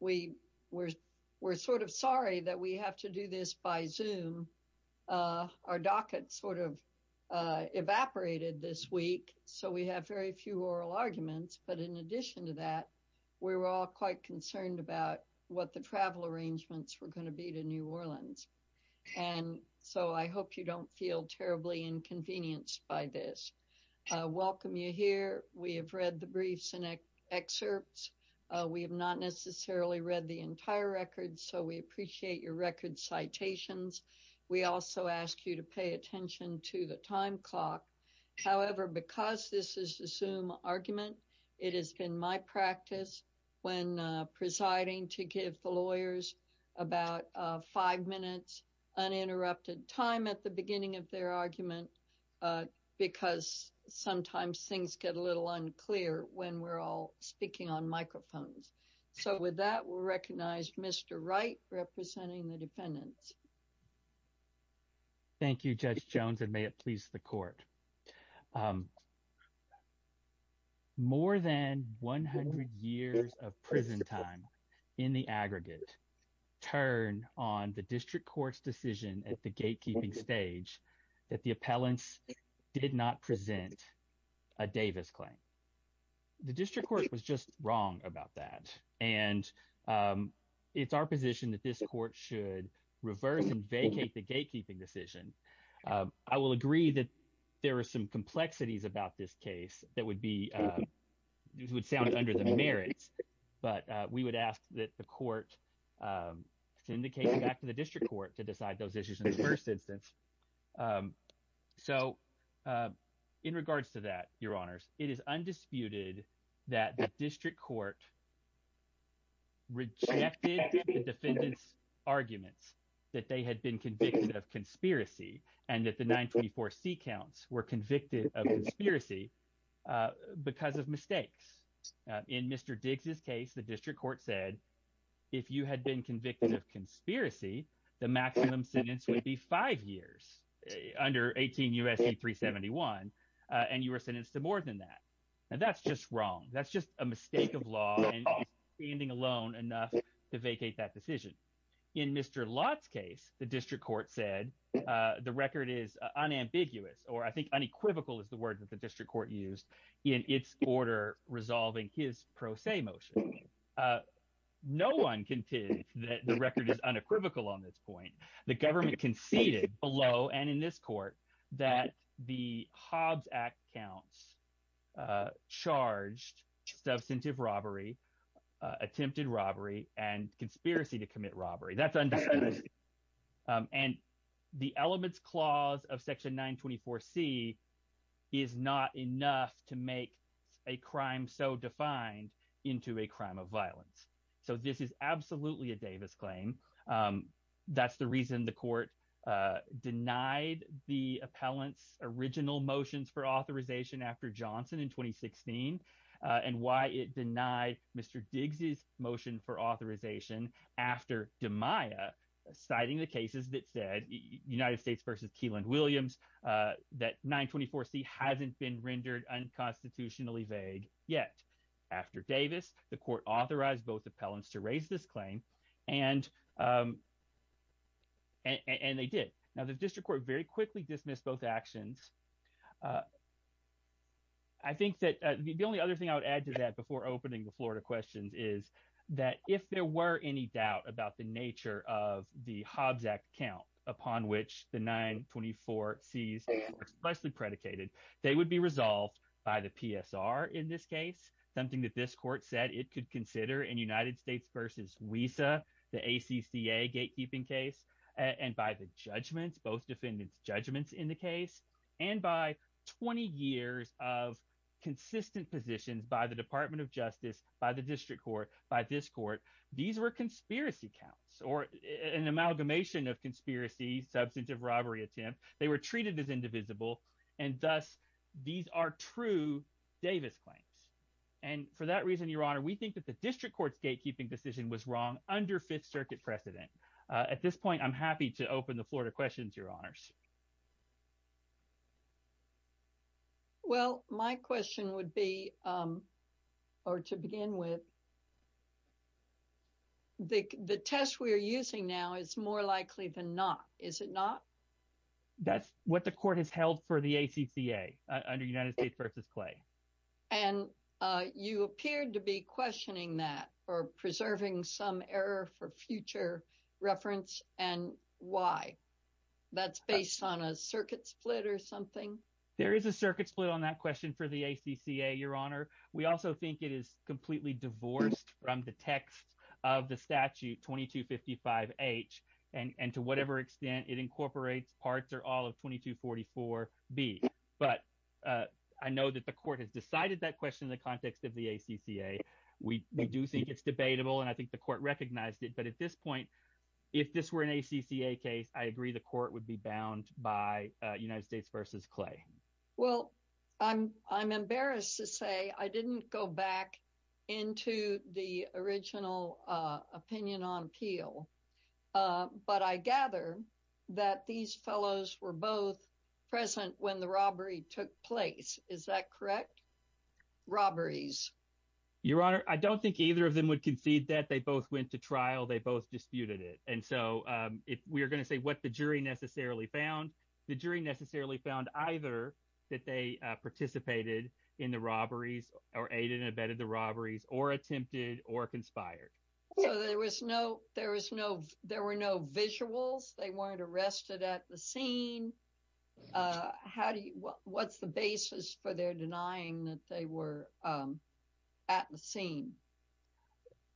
We're sort of sorry that we have to do this by Zoom. Our docket sort of evaporated this week, so we have very few oral arguments. But in addition to that, we were all quite concerned about what the travel arrangements were going to be to New Orleans. And so I hope you don't feel terribly inconvenienced by this. I welcome you here. We have read the briefs and excerpts. We have not necessarily read the entire record, so we appreciate your record citations. We also ask you to pay attention to the time clock. However, because this is a Zoom argument, it has been my practice when presiding to give the lawyers about five minutes uninterrupted time at the beginning of their argument. Because sometimes things get a little unclear when we're all speaking on microphones. So with that, we'll recognize Mr. Wright representing the defendants. Thank you, Judge Jones, and may it please the court. More than 100 years of prison time in the aggregate turn on the district court's decision at the gatekeeping stage that the appellants did not present a Davis claim. The district court was just wrong about that, and it's our position that this court should reverse and vacate the gatekeeping decision. I will agree that there are some complexities about this case that would be – this would sound under the merits, but we would ask that the court syndicate back to the district court to decide those issues in the first instance. So in regards to that, Your Honors, it is undisputed that the district court rejected the defendants' arguments that they had been convicted of conspiracy and that the 924C counts were convicted of conspiracy because of mistakes. In Mr. Diggs' case, the district court said if you had been convicted of conspiracy, the maximum sentence would be five years under 18 U.S.C. 371, and you were sentenced to more than that. Now that's just wrong. That's just a mistake of law, and you're standing alone enough to vacate that decision. In Mr. Lott's case, the district court said the record is unambiguous, or I think unequivocal is the word that the district court used in its order resolving his pro se motion. No one can tell you that the record is unequivocal on this point. The government conceded below and in this court that the Hobbs Act counts charged substantive robbery, attempted robbery, and conspiracy to commit robbery. And the elements clause of Section 924C is not enough to make a crime so defined into a crime of violence. So this is absolutely a Davis claim. That's the reason the court denied the appellant's original motions for authorization after Johnson in 2016, and why it denied Mr. Diggs' motion for authorization after DiMaia, citing the cases that said, United States v. Keyland Williams, that 924C hasn't been rendered unconstitutionally vague yet. After Davis, the court authorized both appellants to raise this claim, and they did. Now, the district court very quickly dismissed both actions. I think that the only other thing I would add to that before opening the floor to questions is that if there were any doubt about the nature of the Hobbs Act count, upon which the 924Cs are expressly predicated, they would be resolved by the PSR in this case, something that this court said it could consider in United States v. WESA, the ACCA gatekeeping case, and by the judgments, both defendants' judgments in the case. And by 20 years of consistent positions by the Department of Justice, by the district court, by this court, these were conspiracy counts or an amalgamation of conspiracy, substantive robbery attempt. They were treated as indivisible, and thus these are true Davis claims. And for that reason, Your Honor, we think that the district court's gatekeeping decision was wrong under Fifth Circuit precedent. At this point, I'm happy to open the floor to questions, Your Honors. Well, my question would be, or to begin with, the test we are using now is more likely than not. Is it not? That's what the court has held for the ACCA, under United States v. Clay. And you appeared to be questioning that or preserving some error for future reference, and why? That's based on a circuit split or something? There is a circuit split on that question for the ACCA, Your Honor. We also think it is completely divorced from the text of the statute 2255H, and to whatever extent it incorporates parts or all of 2244B. But I know that the court has decided that question in the context of the ACCA. We do think it's debatable, and I think the court recognized it. But at this point, if this were an ACCA case, I agree the court would be bound by United States v. Clay. Well, I'm embarrassed to say I didn't go back into the original opinion on appeal, but I gather that these fellows were both present when the robbery took place. Is that correct? Robberies. Your Honor, I don't think either of them would concede that. They both went to trial. They both disputed it. And so if we are going to say what the jury necessarily found, the jury necessarily found either that they participated in the robberies or aided and abetted the robberies or attempted or conspired. So there were no visuals? They weren't arrested at the scene? What's the basis for their denying that they were at the scene?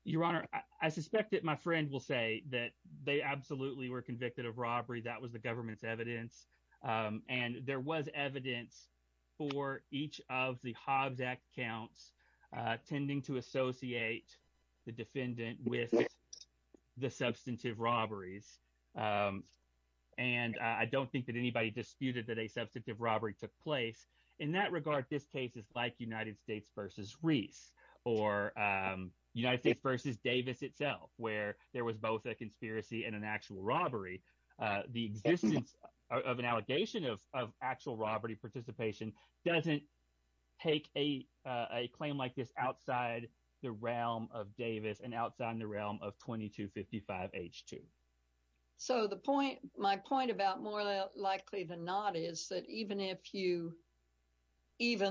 Your Honor, I suspect that my friend will say that they absolutely were convicted of robbery. That was the government's evidence, and there was evidence for each of the Hobbs Act counts tending to associate the defendant with the substantive robberies. And I don't think that anybody disputed that a substantive robbery took place. In that regard, this case is like United States v. Reese or United States v. Davis itself where there was both a conspiracy and an actual robbery. The existence of an allegation of actual robbery participation doesn't take a claim like this outside the realm of Davis and outside the realm of 2255H2. So my point about more likely than not is that even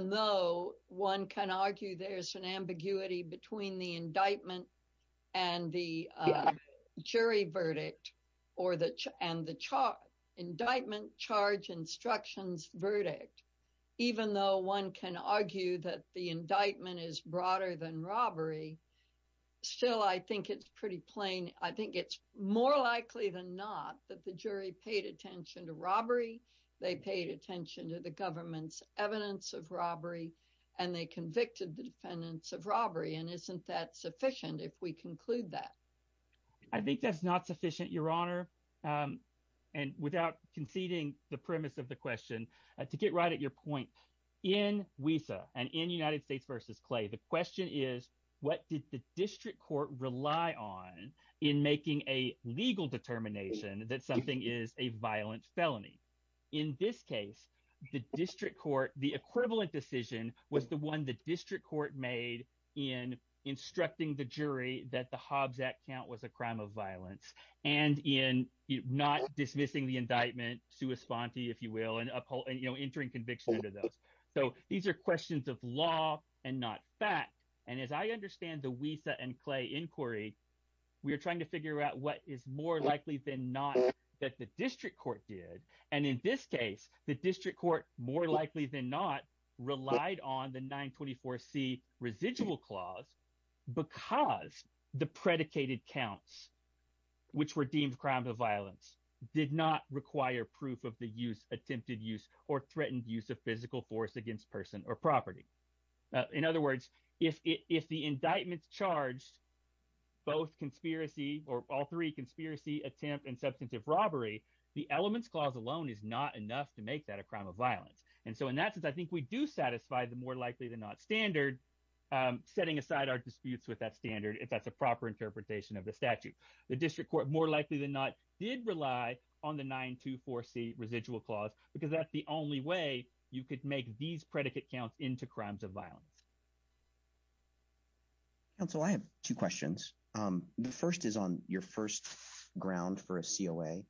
though one can argue there's an ambiguity between the indictment and the jury verdict and the indictment charge instructions verdict, even though one can argue that the indictment is broader than robbery, still I think it's pretty plain. I think it's more likely than not that the jury paid attention to robbery, they paid attention to the government's evidence of robbery, and they convicted the defendants of robbery, and isn't that sufficient if we conclude that? I think that's not sufficient, Your Honor. And without conceding the premise of the question, to get right at your point, in WESA and in United States v. Clay, the question is what did the district court rely on in making a legal determination that something is a violent felony? In this case, the district court – the equivalent decision was the one the district court made in instructing the jury that the Hobbs Act count was a crime of violence and in not dismissing the indictment, sua sponte, if you will, and entering conviction under those. So these are questions of law and not fact, and as I understand the WESA and Clay inquiry, we are trying to figure out what is more likely than not that the district court did. And in this case, the district court, more likely than not, relied on the 924C residual clause because the predicated counts, which were deemed crime of violence, did not require proof of the use, attempted use, or threatened use of physical force against person or property. In other words, if the indictment charged both conspiracy or all three, conspiracy, attempt, and substantive robbery, the elements clause alone is not enough to make that a crime of violence. And so in that sense, I think we do satisfy the more likely than not standard, setting aside our disputes with that standard if that's a proper interpretation of the statute. The district court, more likely than not, did rely on the 924C residual clause because that's the only way you could make these predicate counts into crimes of violence. Council, I have two questions. The first is on your first ground for a COA.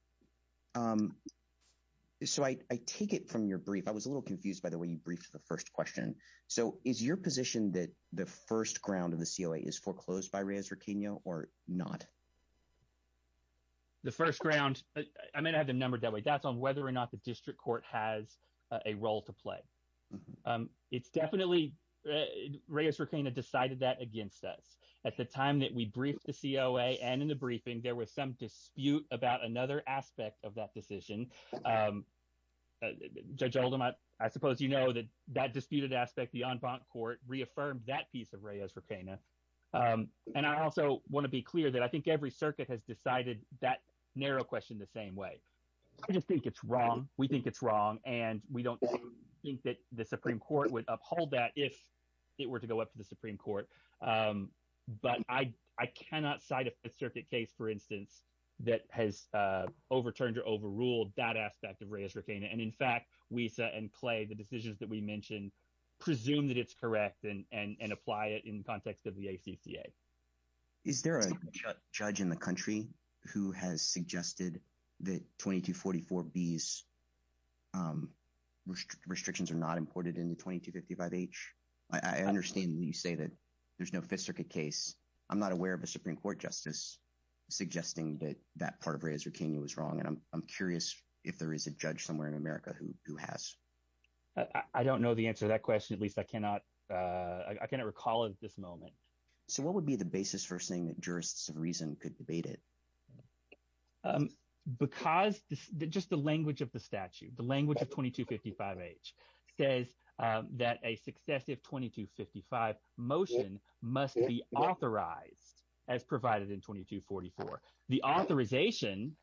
So I take it from your brief. I was a little confused by the way you briefed the first question. So is your position that the first ground of the COA is foreclosed by Reyes-Riqueno or not? The first ground, I mean, I have them numbered that way. That's on whether or not the district court has a role to play. It's definitely Reyes-Riqueno decided that against us. At the time that we briefed the COA and in the briefing, there was some dispute about another aspect of that decision. Judge Oldham, I suppose you know that that disputed aspect, the en banc court, reaffirmed that piece of Reyes-Riqueno. And I also want to be clear that I think every circuit has decided that narrow question the same way. I just think it's wrong. We think it's wrong. And we don't think that the Supreme Court would uphold that if it were to go up to the Supreme Court. But I cannot cite a circuit case, for instance, that has overturned or overruled that aspect of Reyes-Riqueno. And, in fact, Wiesa and Clay, the decisions that we mentioned, presume that it's correct and apply it in context of the ACCA. Is there a judge in the country who has suggested that 2244B's restrictions are not imported into 2255H? I understand that you say that there's no Fifth Circuit case. I'm not aware of a Supreme Court justice suggesting that that part of Reyes-Riqueno was wrong. And I'm curious if there is a judge somewhere in America who has. I don't know the answer to that question, at least I cannot recall at this moment. So what would be the basis for saying that jurists of reason could debate it? Because just the language of the statute, the language of 2255H says that a successive 2255 motion must be authorized as provided in 2244. The authorization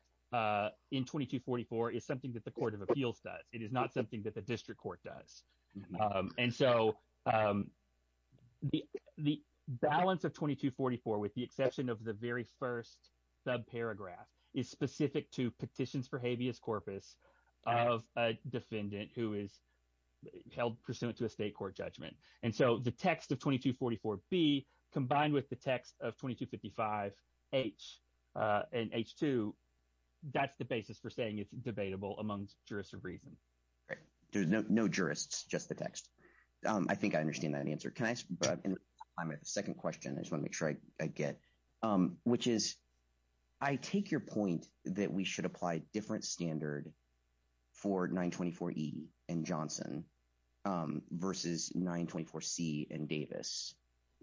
in 2244 is something that the court of appeals does. It is not something that the district court does. And so the balance of 2244, with the exception of the very first subparagraph, is specific to petitions for habeas corpus of a defendant who is held pursuant to a state court judgment. And so the text of 2244B combined with the text of 2255H and H2, that's the basis for saying it's debatable amongst jurists of reason. There's no jurists, just the text. I think I understand that answer. Can I ask a second question? I just want to make sure I get. Which is, I take your point that we should apply different standard for 924E and Johnson versus 924C and Davis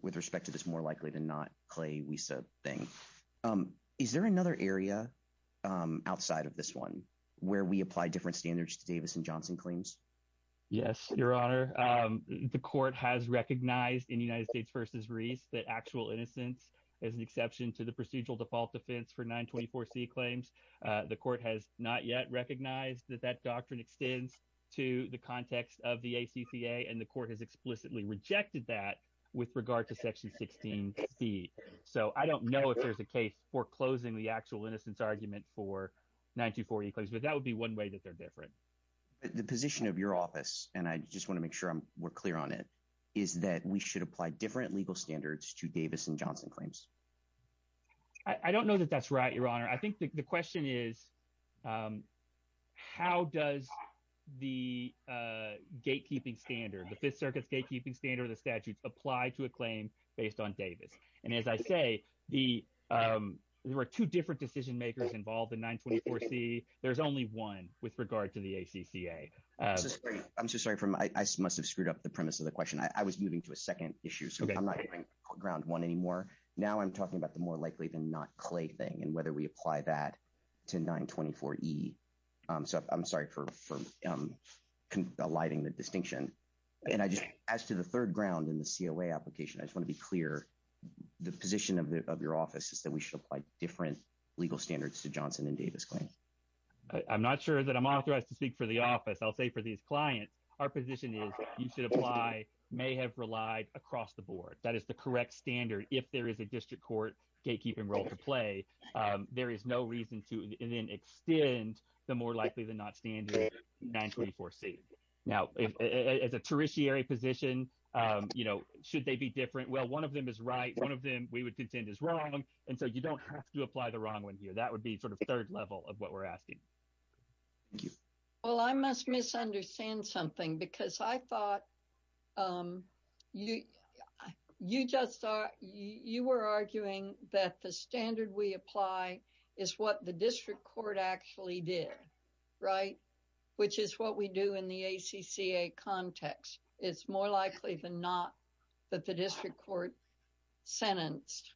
with respect to this more likely than not Clay Wiese thing. Is there another area outside of this one where we apply different standards to Davis and Johnson claims? Yes, Your Honor. The court has recognized in the United States versus Reese that actual innocence is an exception to the procedural default defense for 924C claims. The court has not yet recognized that that doctrine extends to the context of the ACCA, and the court has explicitly rejected that with regard to section 16C. So I don't know if there's a case foreclosing the actual innocence argument for 924E claims, but that would be one way that they're different. The position of your office, and I just want to make sure we're clear on it, is that we should apply different legal standards to Davis and Johnson claims. I don't know that that's right, Your Honor. I think the question is, how does the gatekeeping standard, the Fifth Circuit's gatekeeping standard of the statutes, apply to a claim based on Davis? And as I say, there are two different decision makers involved in 924C. There's only one with regard to the ACCA. I'm so sorry. I must have screwed up the premise of the question. I was moving to a second issue, so I'm not going to ground one anymore. Now I'm talking about the more likely than not Clay thing and whether we apply that to 924E. So I'm sorry for alighting the distinction. And as to the third ground in the COA application, I just want to be clear. The position of your office is that we should apply different legal standards to Johnson and Davis claims. I'm not sure that I'm authorized to speak for the office. I'll say for these clients, our position is you should apply, may have relied across the board. That is the correct standard. If there is a district court gatekeeping role to play, there is no reason to then extend the more likely than not standard 924C. Now, as a tertiary position, you know, should they be different? Well, one of them is right. One of them we would contend is wrong. And so you don't have to apply the wrong one here. That would be sort of third level of what we're asking. Well, I must misunderstand something because I thought you just thought you were arguing that the standard we apply is what the district court actually did. Right. Which is what we do in the ACCA context. It's more likely than not that the district court sentenced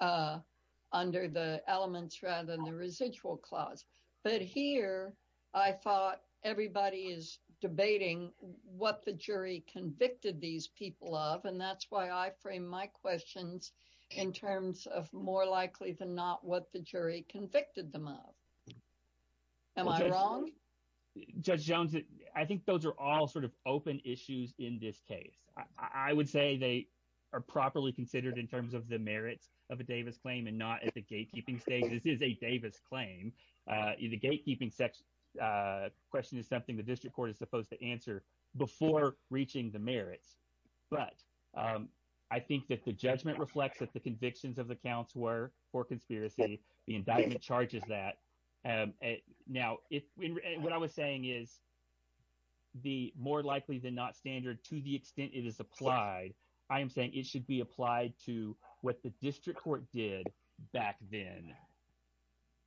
under the elements rather than the residual clause. But here I thought everybody is debating what the jury convicted these people of. And that's why I frame my questions in terms of more likely than not what the jury convicted them of. Am I wrong? Judge Jones, I think those are all sort of open issues in this case. I would say they are properly considered in terms of the merits of a Davis claim and not at the gatekeeping stage. This is a Davis claim. The gatekeeping question is something the district court is supposed to answer before reaching the merits. But I think that the judgment reflects that the convictions of the counts were for conspiracy. The indictment charges that. Now, what I was saying is. The more likely than not standard to the extent it is applied. I am saying it should be applied to what the district court did back then.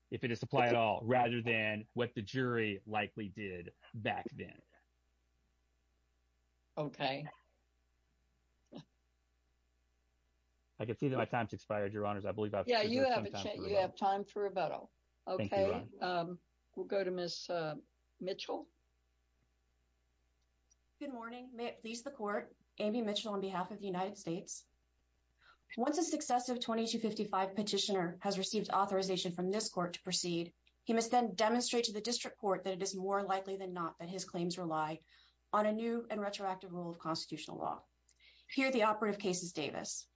If it is to play at all rather than what the jury likely did back then. OK. I can see that my time has expired, Your Honors. I believe that you have time for rebuttal. OK. We'll go to Miss Mitchell. Good morning. May it please the court. Amy Mitchell on behalf of the United States. My name is Amy Mitchell. I am the attorney for the Davis case. Once a successive 2255 petitioner has received authorization from this court to proceed. He must then demonstrate to the district court that it is more likely than not that his claims rely on a new and retroactive rule of constitutional law. Here the operative case is Davis.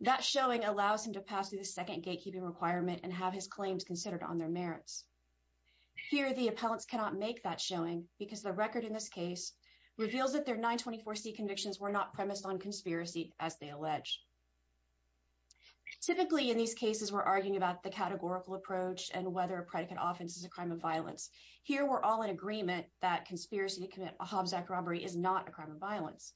That showing allows him to pass through the second gatekeeping requirement and have his claims considered on their merits. Here, the appellants cannot make that showing because the record in this case reveals that their 924 C convictions were not premised on conspiracy, as they allege. Typically, in these cases, we're arguing about the categorical approach and whether a predicate offense is a crime of violence. Here, we're all in agreement that conspiracy to commit a Hobbs act robbery is not a crime of violence.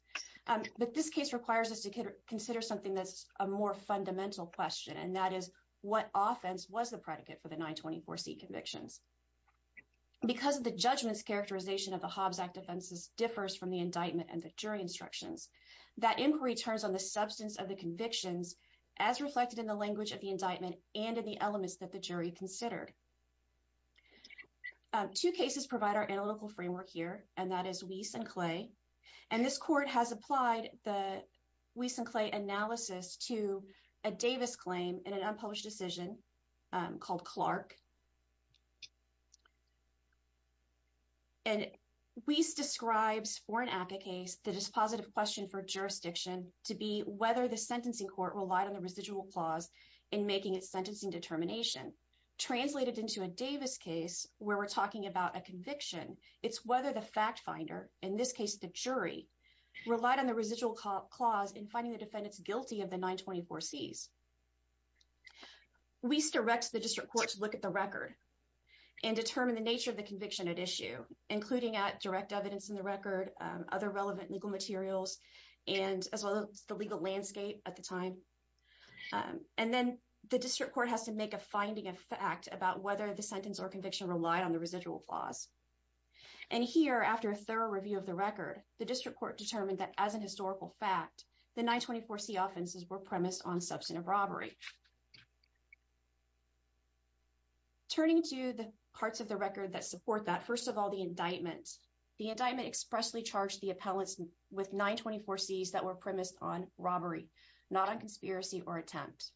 But this case requires us to consider something that's a more fundamental question. And that is what offense was the predicate for the 924 C convictions. Because of the judgments characterization of the Hobbs act offenses differs from the indictment and the jury instructions. That inquiry turns on the substance of the convictions as reflected in the language of the indictment and in the elements that the jury considered. Two cases provide our analytical framework here. And that is Weiss and Clay. And this court has applied the Weiss and Clay analysis to a Davis claim in an unpublished decision called Clark. And Weiss describes for an ACCA case, the dispositive question for jurisdiction to be whether the sentencing court relied on the residual clause in making its sentencing determination. Translated into a Davis case, where we're talking about a conviction. It's whether the fact finder, in this case, the jury relied on the residual clause in finding the defendants guilty of the 924 C's. Weiss directs the district court to look at the record and determine the nature of the conviction at issue, including at direct evidence in the record, other relevant legal materials, and as well as the legal landscape at the time. And then the district court has to make a finding of fact about whether the sentence or conviction relied on the residual clause. And here, after a thorough review of the record, the district court determined that as an historical fact, the 924 C offenses were premised on substantive robbery. Turning to the parts of the record that support that, first of all, the indictment. The indictment expressly charged the appellants with 924 C's that were premised on robbery, not on conspiracy or attempt.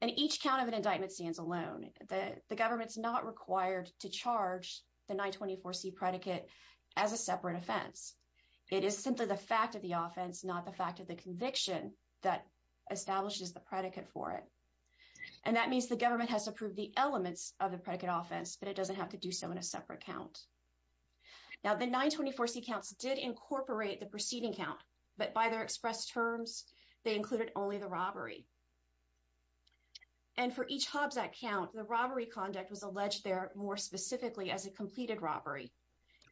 And each count of an indictment stands alone. The government's not required to charge the 924 C predicate as a separate offense. It is simply the fact of the offense, not the fact of the conviction that establishes the predicate for it. And that means the government has to prove the elements of the predicate offense, but it doesn't have to do so in a separate count. Now, the 924 C counts did incorporate the preceding count, but by their expressed terms, they included only the robbery. And for each Hobbs Act count, the robbery conduct was alleged there more specifically as a completed robbery.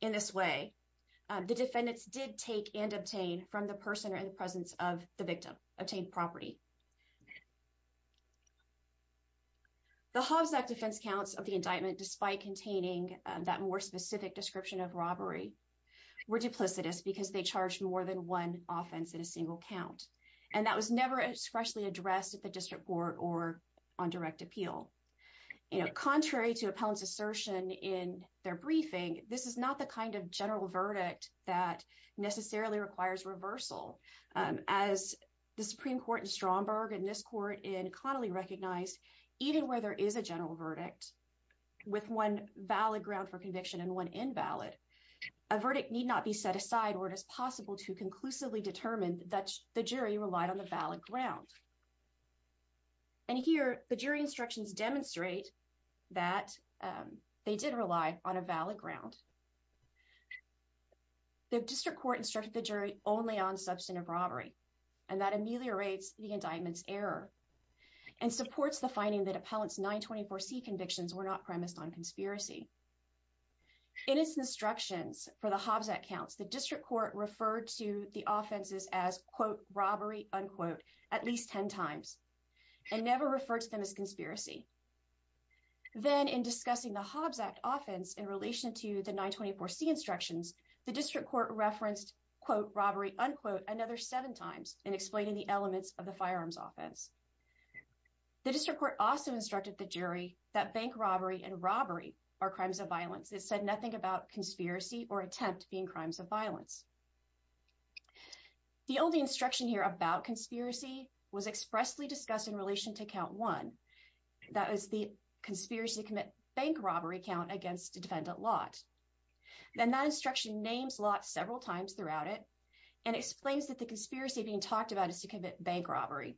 In this way, the defendants did take and obtain from the person or in the presence of the victim, obtained property. The Hobbs Act defense counts of the indictment, despite containing that more specific description of robbery, were duplicitous because they charged more than one offense in a single count. And that was never expressly addressed at the district court or on direct appeal. Contrary to appellant's assertion in their briefing, this is not the kind of general verdict that necessarily requires reversal. As the Supreme Court in Stromberg and this court in Connolly recognized, even where there is a general verdict with one valid ground for conviction and one invalid, a verdict need not be set aside or it is possible to conclusively determine that the jury relied on the valid ground. And here, the jury instructions demonstrate that they did rely on a valid ground. The district court instructed the jury only on substantive robbery and that ameliorates the indictment's error and supports the finding that appellant's 924 C convictions were not premised on conspiracy. In its instructions for the Hobbs Act counts, the district court referred to the offenses as, quote, robbery, unquote, at least 10 times and never referred to them as conspiracy. Then in discussing the Hobbs Act offense in relation to the 924 C instructions, the district court referenced, quote, robbery, unquote, another seven times in explaining the elements of the firearms offense. The district court also instructed the jury that bank robbery and robbery are crimes of violence. It said nothing about conspiracy or attempt being crimes of violence. The only instruction here about conspiracy was expressly discussed in relation to count one. That is the conspiracy to commit bank robbery count against defendant Lott. Then that instruction names Lott several times throughout it and explains that the conspiracy being talked about is to commit bank robbery.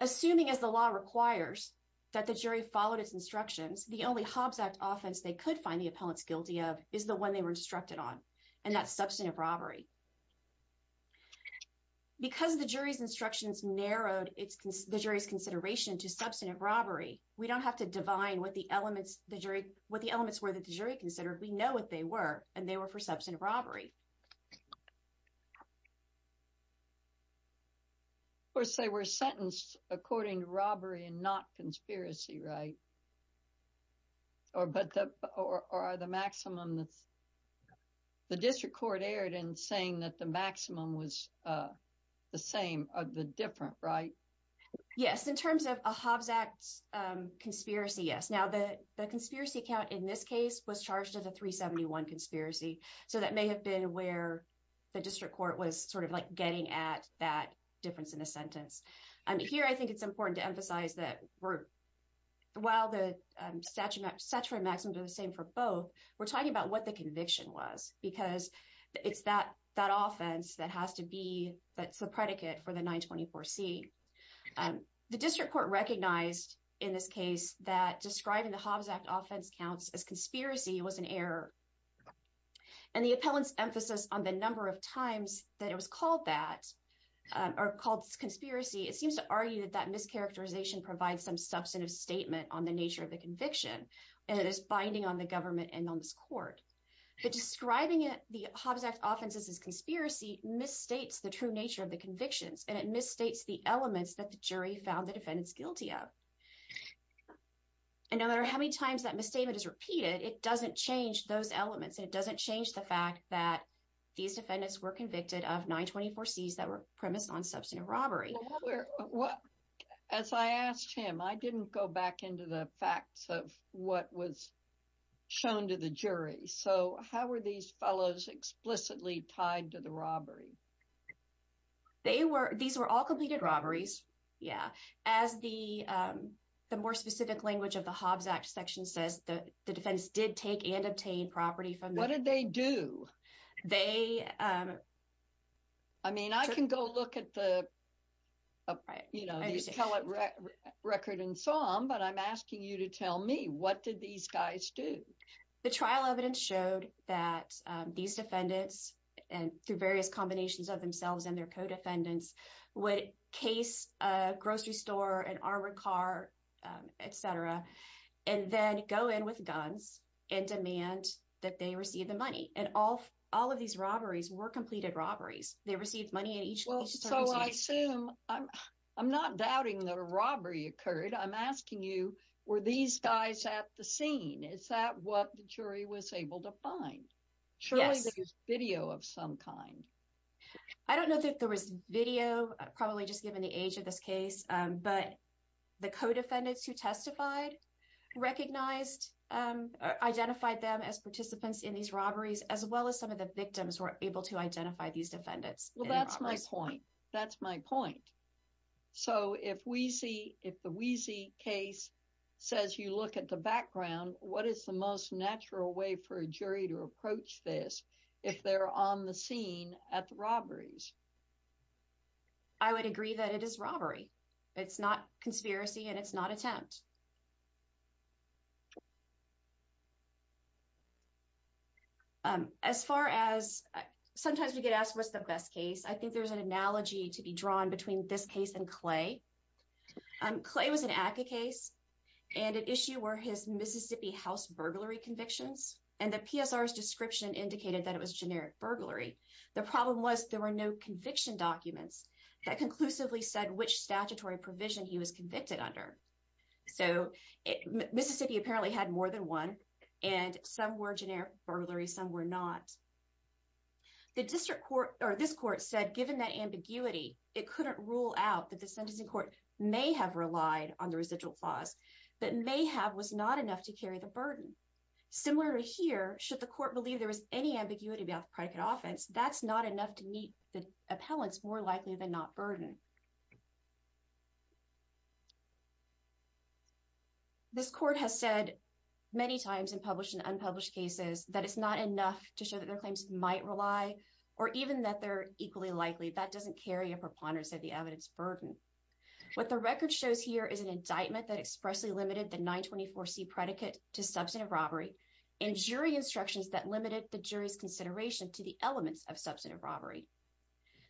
Assuming as the law requires that the jury followed its instructions, the only Hobbs Act offense they could find the appellants guilty of is the one they were instructed on and that's substantive robbery. Because the jury's instructions narrowed the jury's consideration to substantive robbery, we don't have to divine what the elements were that the jury considered. We know what they were and they were for substantive robbery. Or say we're sentenced according to robbery and not conspiracy, right? Or are the maximum, the district court erred in saying that the maximum was the same or the different, right? Yes, in terms of a Hobbs Act conspiracy, yes. Now, the conspiracy count in this case was charged as a 371 conspiracy. So that may have been where the district court was sort of like getting at that difference in a sentence. Here I think it's important to emphasize that while the statutory maximums are the same for both, we're talking about what the conviction was because it's that offense that has to be, that's the predicate for the 924C. The district court recognized in this case that describing the Hobbs Act offense counts as conspiracy was an error. And the appellant's emphasis on the number of times that it was called that, or called conspiracy, it seems to argue that that mischaracterization provides some substantive statement on the nature of the conviction. And it is binding on the government and on this court. But describing the Hobbs Act offenses as conspiracy misstates the true nature of the convictions. And it misstates the elements that the jury found the defendants guilty of. And no matter how many times that misstatement is repeated, it doesn't change those elements. It doesn't change the fact that these defendants were convicted of 924Cs that were premised on substantive robbery. Well, as I asked him, I didn't go back into the facts of what was shown to the jury. So how were these fellows explicitly tied to the robbery? They were, these were all completed robberies. Yeah. As the more specific language of the Hobbs Act section says, the defendants did take and obtain property from the. What did they do? They. I mean, I can go look at the record and some, but I'm asking you to tell me what did these guys do? The trial evidence showed that these defendants and through various combinations of themselves and their co-defendants would case a grocery store, an armored car, etc. And then go in with guns and demand that they receive the money. And all of these robberies were completed robberies. They received money in each case. So I assume I'm not doubting that a robbery occurred. I'm asking you, were these guys at the scene? Is that what the jury was able to find? Surely there was video of some kind. I don't know that there was video, probably just given the age of this case. But the co-defendants who testified recognized, identified them as participants in these robberies, as well as some of the victims were able to identify these defendants. Well, that's my point. That's my point. So if we see if the Weezy case says you look at the background, what is the most natural way for a jury to approach this if they're on the scene at the robberies? I would agree that it is robbery. It's not conspiracy and it's not attempt. As far as sometimes we get asked what's the best case, I think there's an analogy to be drawn between this case and Clay. Clay was an ACCA case. And at issue were his Mississippi House burglary convictions. And the PSR's description indicated that it was generic burglary. The problem was there were no conviction documents that conclusively said which statutory provision he was convicted under. So Mississippi apparently had more than one and some were generic burglary, some were not. The district court or this court said given that ambiguity, it couldn't rule out that the sentencing court may have relied on the residual clause, but may have was not enough to carry the burden. Similar to here, should the court believe there was any ambiguity about the predicate offense, that's not enough to meet the appellants more likely than not burden. This court has said many times in published and unpublished cases that it's not enough to show that their claims might rely or even that they're equally likely. That doesn't carry a preponderance of the evidence burden. What the record shows here is an indictment that expressly limited the 924 C predicate to substantive robbery and jury instructions that limited the jury's consideration to the elements of substantive robbery.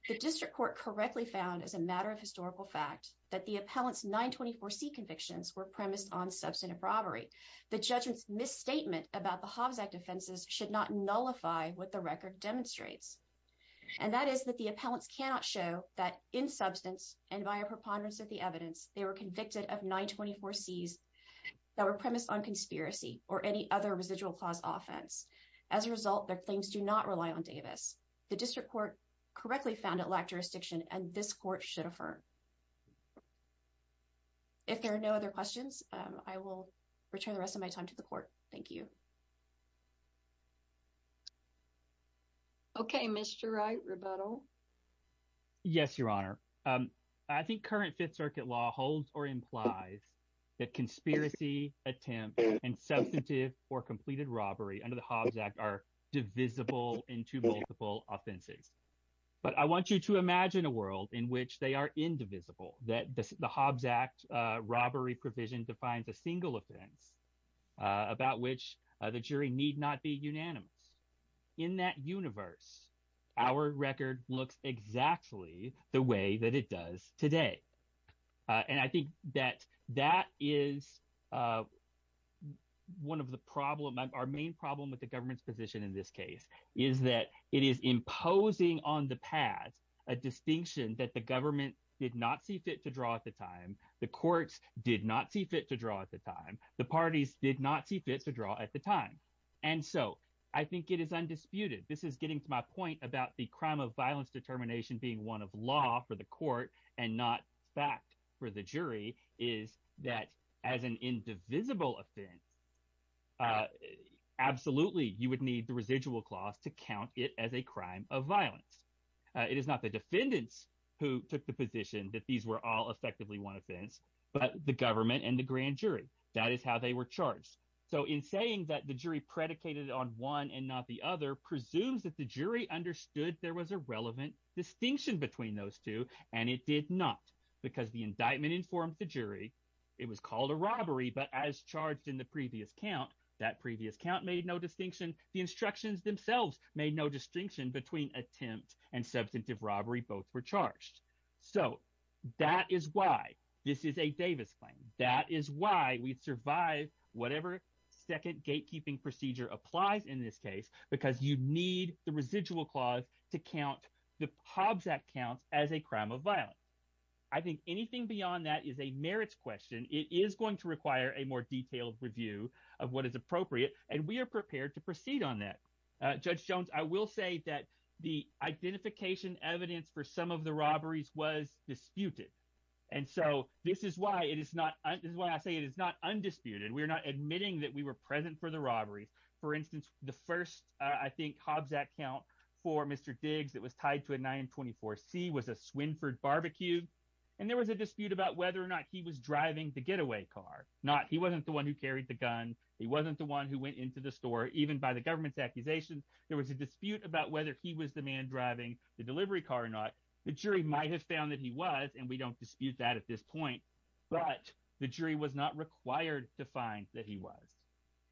The district court correctly found as a matter of historical fact that the appellants 924 C convictions were premised on substantive robbery. The judgment's misstatement about the Hobbs Act offenses should not nullify what the record demonstrates. And that is that the appellants cannot show that in substance and by a preponderance of the evidence, they were convicted of 924 C's that were premised on conspiracy or any other residual clause offense. As a result, their claims do not rely on Davis. The district court correctly found it lack jurisdiction and this court should affirm. If there are no other questions, I will return the rest of my time to the court. Thank you. Mr. Wright, rebuttal. Yes, Your Honor. I think current Fifth Circuit law holds or implies that conspiracy attempts and substantive or completed robbery under the Hobbs Act are divisible into multiple offenses. But I want you to imagine a world in which they are indivisible, that the Hobbs Act robbery provision defines a single offense about which the jury need not be unanimous. In that universe, our record looks exactly the way that it does today. And I think that that is one of the problem – our main problem with the government's position in this case is that it is imposing on the pad a distinction that the government did not see fit to draw at the time. The courts did not see fit to draw at the time. The parties did not see fit to draw at the time. And so I think it is undisputed. This is getting to my point about the crime of violence determination being one of law for the court and not fact for the jury is that as an indivisible offense, absolutely you would need the residual clause to count it as a crime of violence. It is not the defendants who took the position that these were all effectively one offense, but the government and the grand jury. That is how they were charged. So in saying that the jury predicated on one and not the other presumes that the jury understood there was a relevant distinction between those two, and it did not because the indictment informed the jury. It was called a robbery, but as charged in the previous count, that previous count made no distinction. The instructions themselves made no distinction between attempt and substantive robbery. Both were charged. So that is why this is a Davis claim. That is why we survive whatever second gatekeeping procedure applies in this case because you need the residual clause to count the Hobbs Act counts as a crime of violence. I think anything beyond that is a merits question. It is going to require a more detailed review of what is appropriate, and we are prepared to proceed on that. Judge Jones, I will say that the identification evidence for some of the robberies was disputed, and so this is why I say it is not undisputed. We are not admitting that we were present for the robberies. For instance, the first, I think, Hobbs Act count for Mr. Diggs that was tied to a 924C was a Swinford barbecue, and there was a dispute about whether or not he was driving the getaway car. He wasn't the one who carried the gun. He wasn't the one who went into the store. Even by the government's accusations, there was a dispute about whether he was the man driving the delivery car or not. The jury might have found that he was, and we don't dispute that at this point, but the jury was not required to find that he was.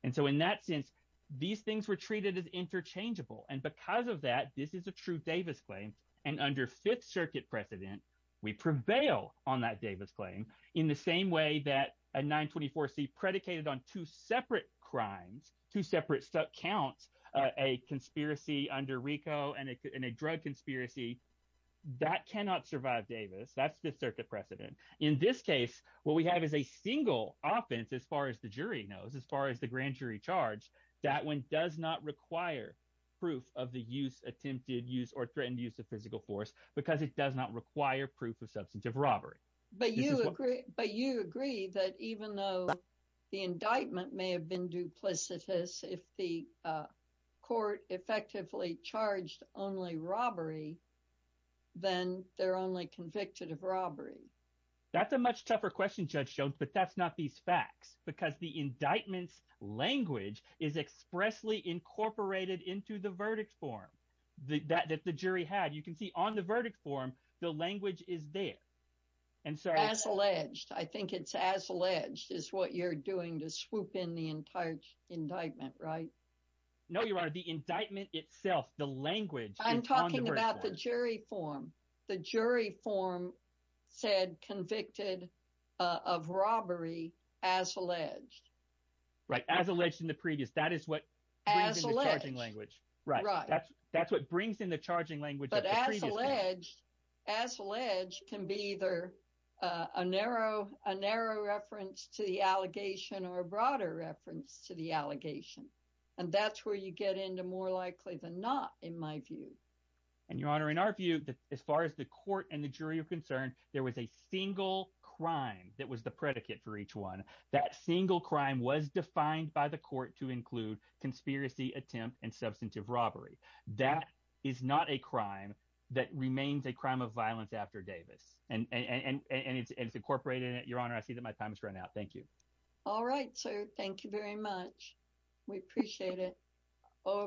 And so in that sense, these things were treated as interchangeable, and because of that, this is a true Davis claim, and under Fifth Circuit precedent, we prevail on that Davis claim in the same way that a 924C predicated on two separate crimes, two separate count, a conspiracy under RICO and a drug conspiracy. That cannot survive Davis. That's Fifth Circuit precedent. In this case, what we have is a single offense, as far as the jury knows, as far as the grand jury charge, that one does not require proof of the use, attempted use, or threatened use of physical force because it does not require proof of substantive robbery. But you agree that even though the indictment may have been duplicitous, if the court effectively charged only robbery, then they're only convicted of robbery. That's a much tougher question, Judge Jones, but that's not these facts, because the indictment's language is expressly incorporated into the verdict form that the jury had. You can see on the verdict form, the language is there. As alleged. I think it's as alleged is what you're doing to swoop in the entire indictment, right? No, Your Honor. The indictment itself, the language is on the verdict form. I'm talking about the jury form. The jury form said convicted of robbery as alleged. Right, as alleged in the previous. That is what brings in the charging language. As alleged. Right. That's what brings in the charging language of the previous case. And that's where you get into more likely than not, in my view. And, Your Honor, in our view, as far as the court and the jury are concerned, there was a single crime that was the predicate for each one. That single crime was defined by the court to include conspiracy, attempt, and substantive robbery. That is not a crime that remains a crime of violence after Davis, and it's incorporated in it. Your Honor, I see that my time has run out. Thank you. All right, sir. Thank you very much. We appreciate it. Au revoir.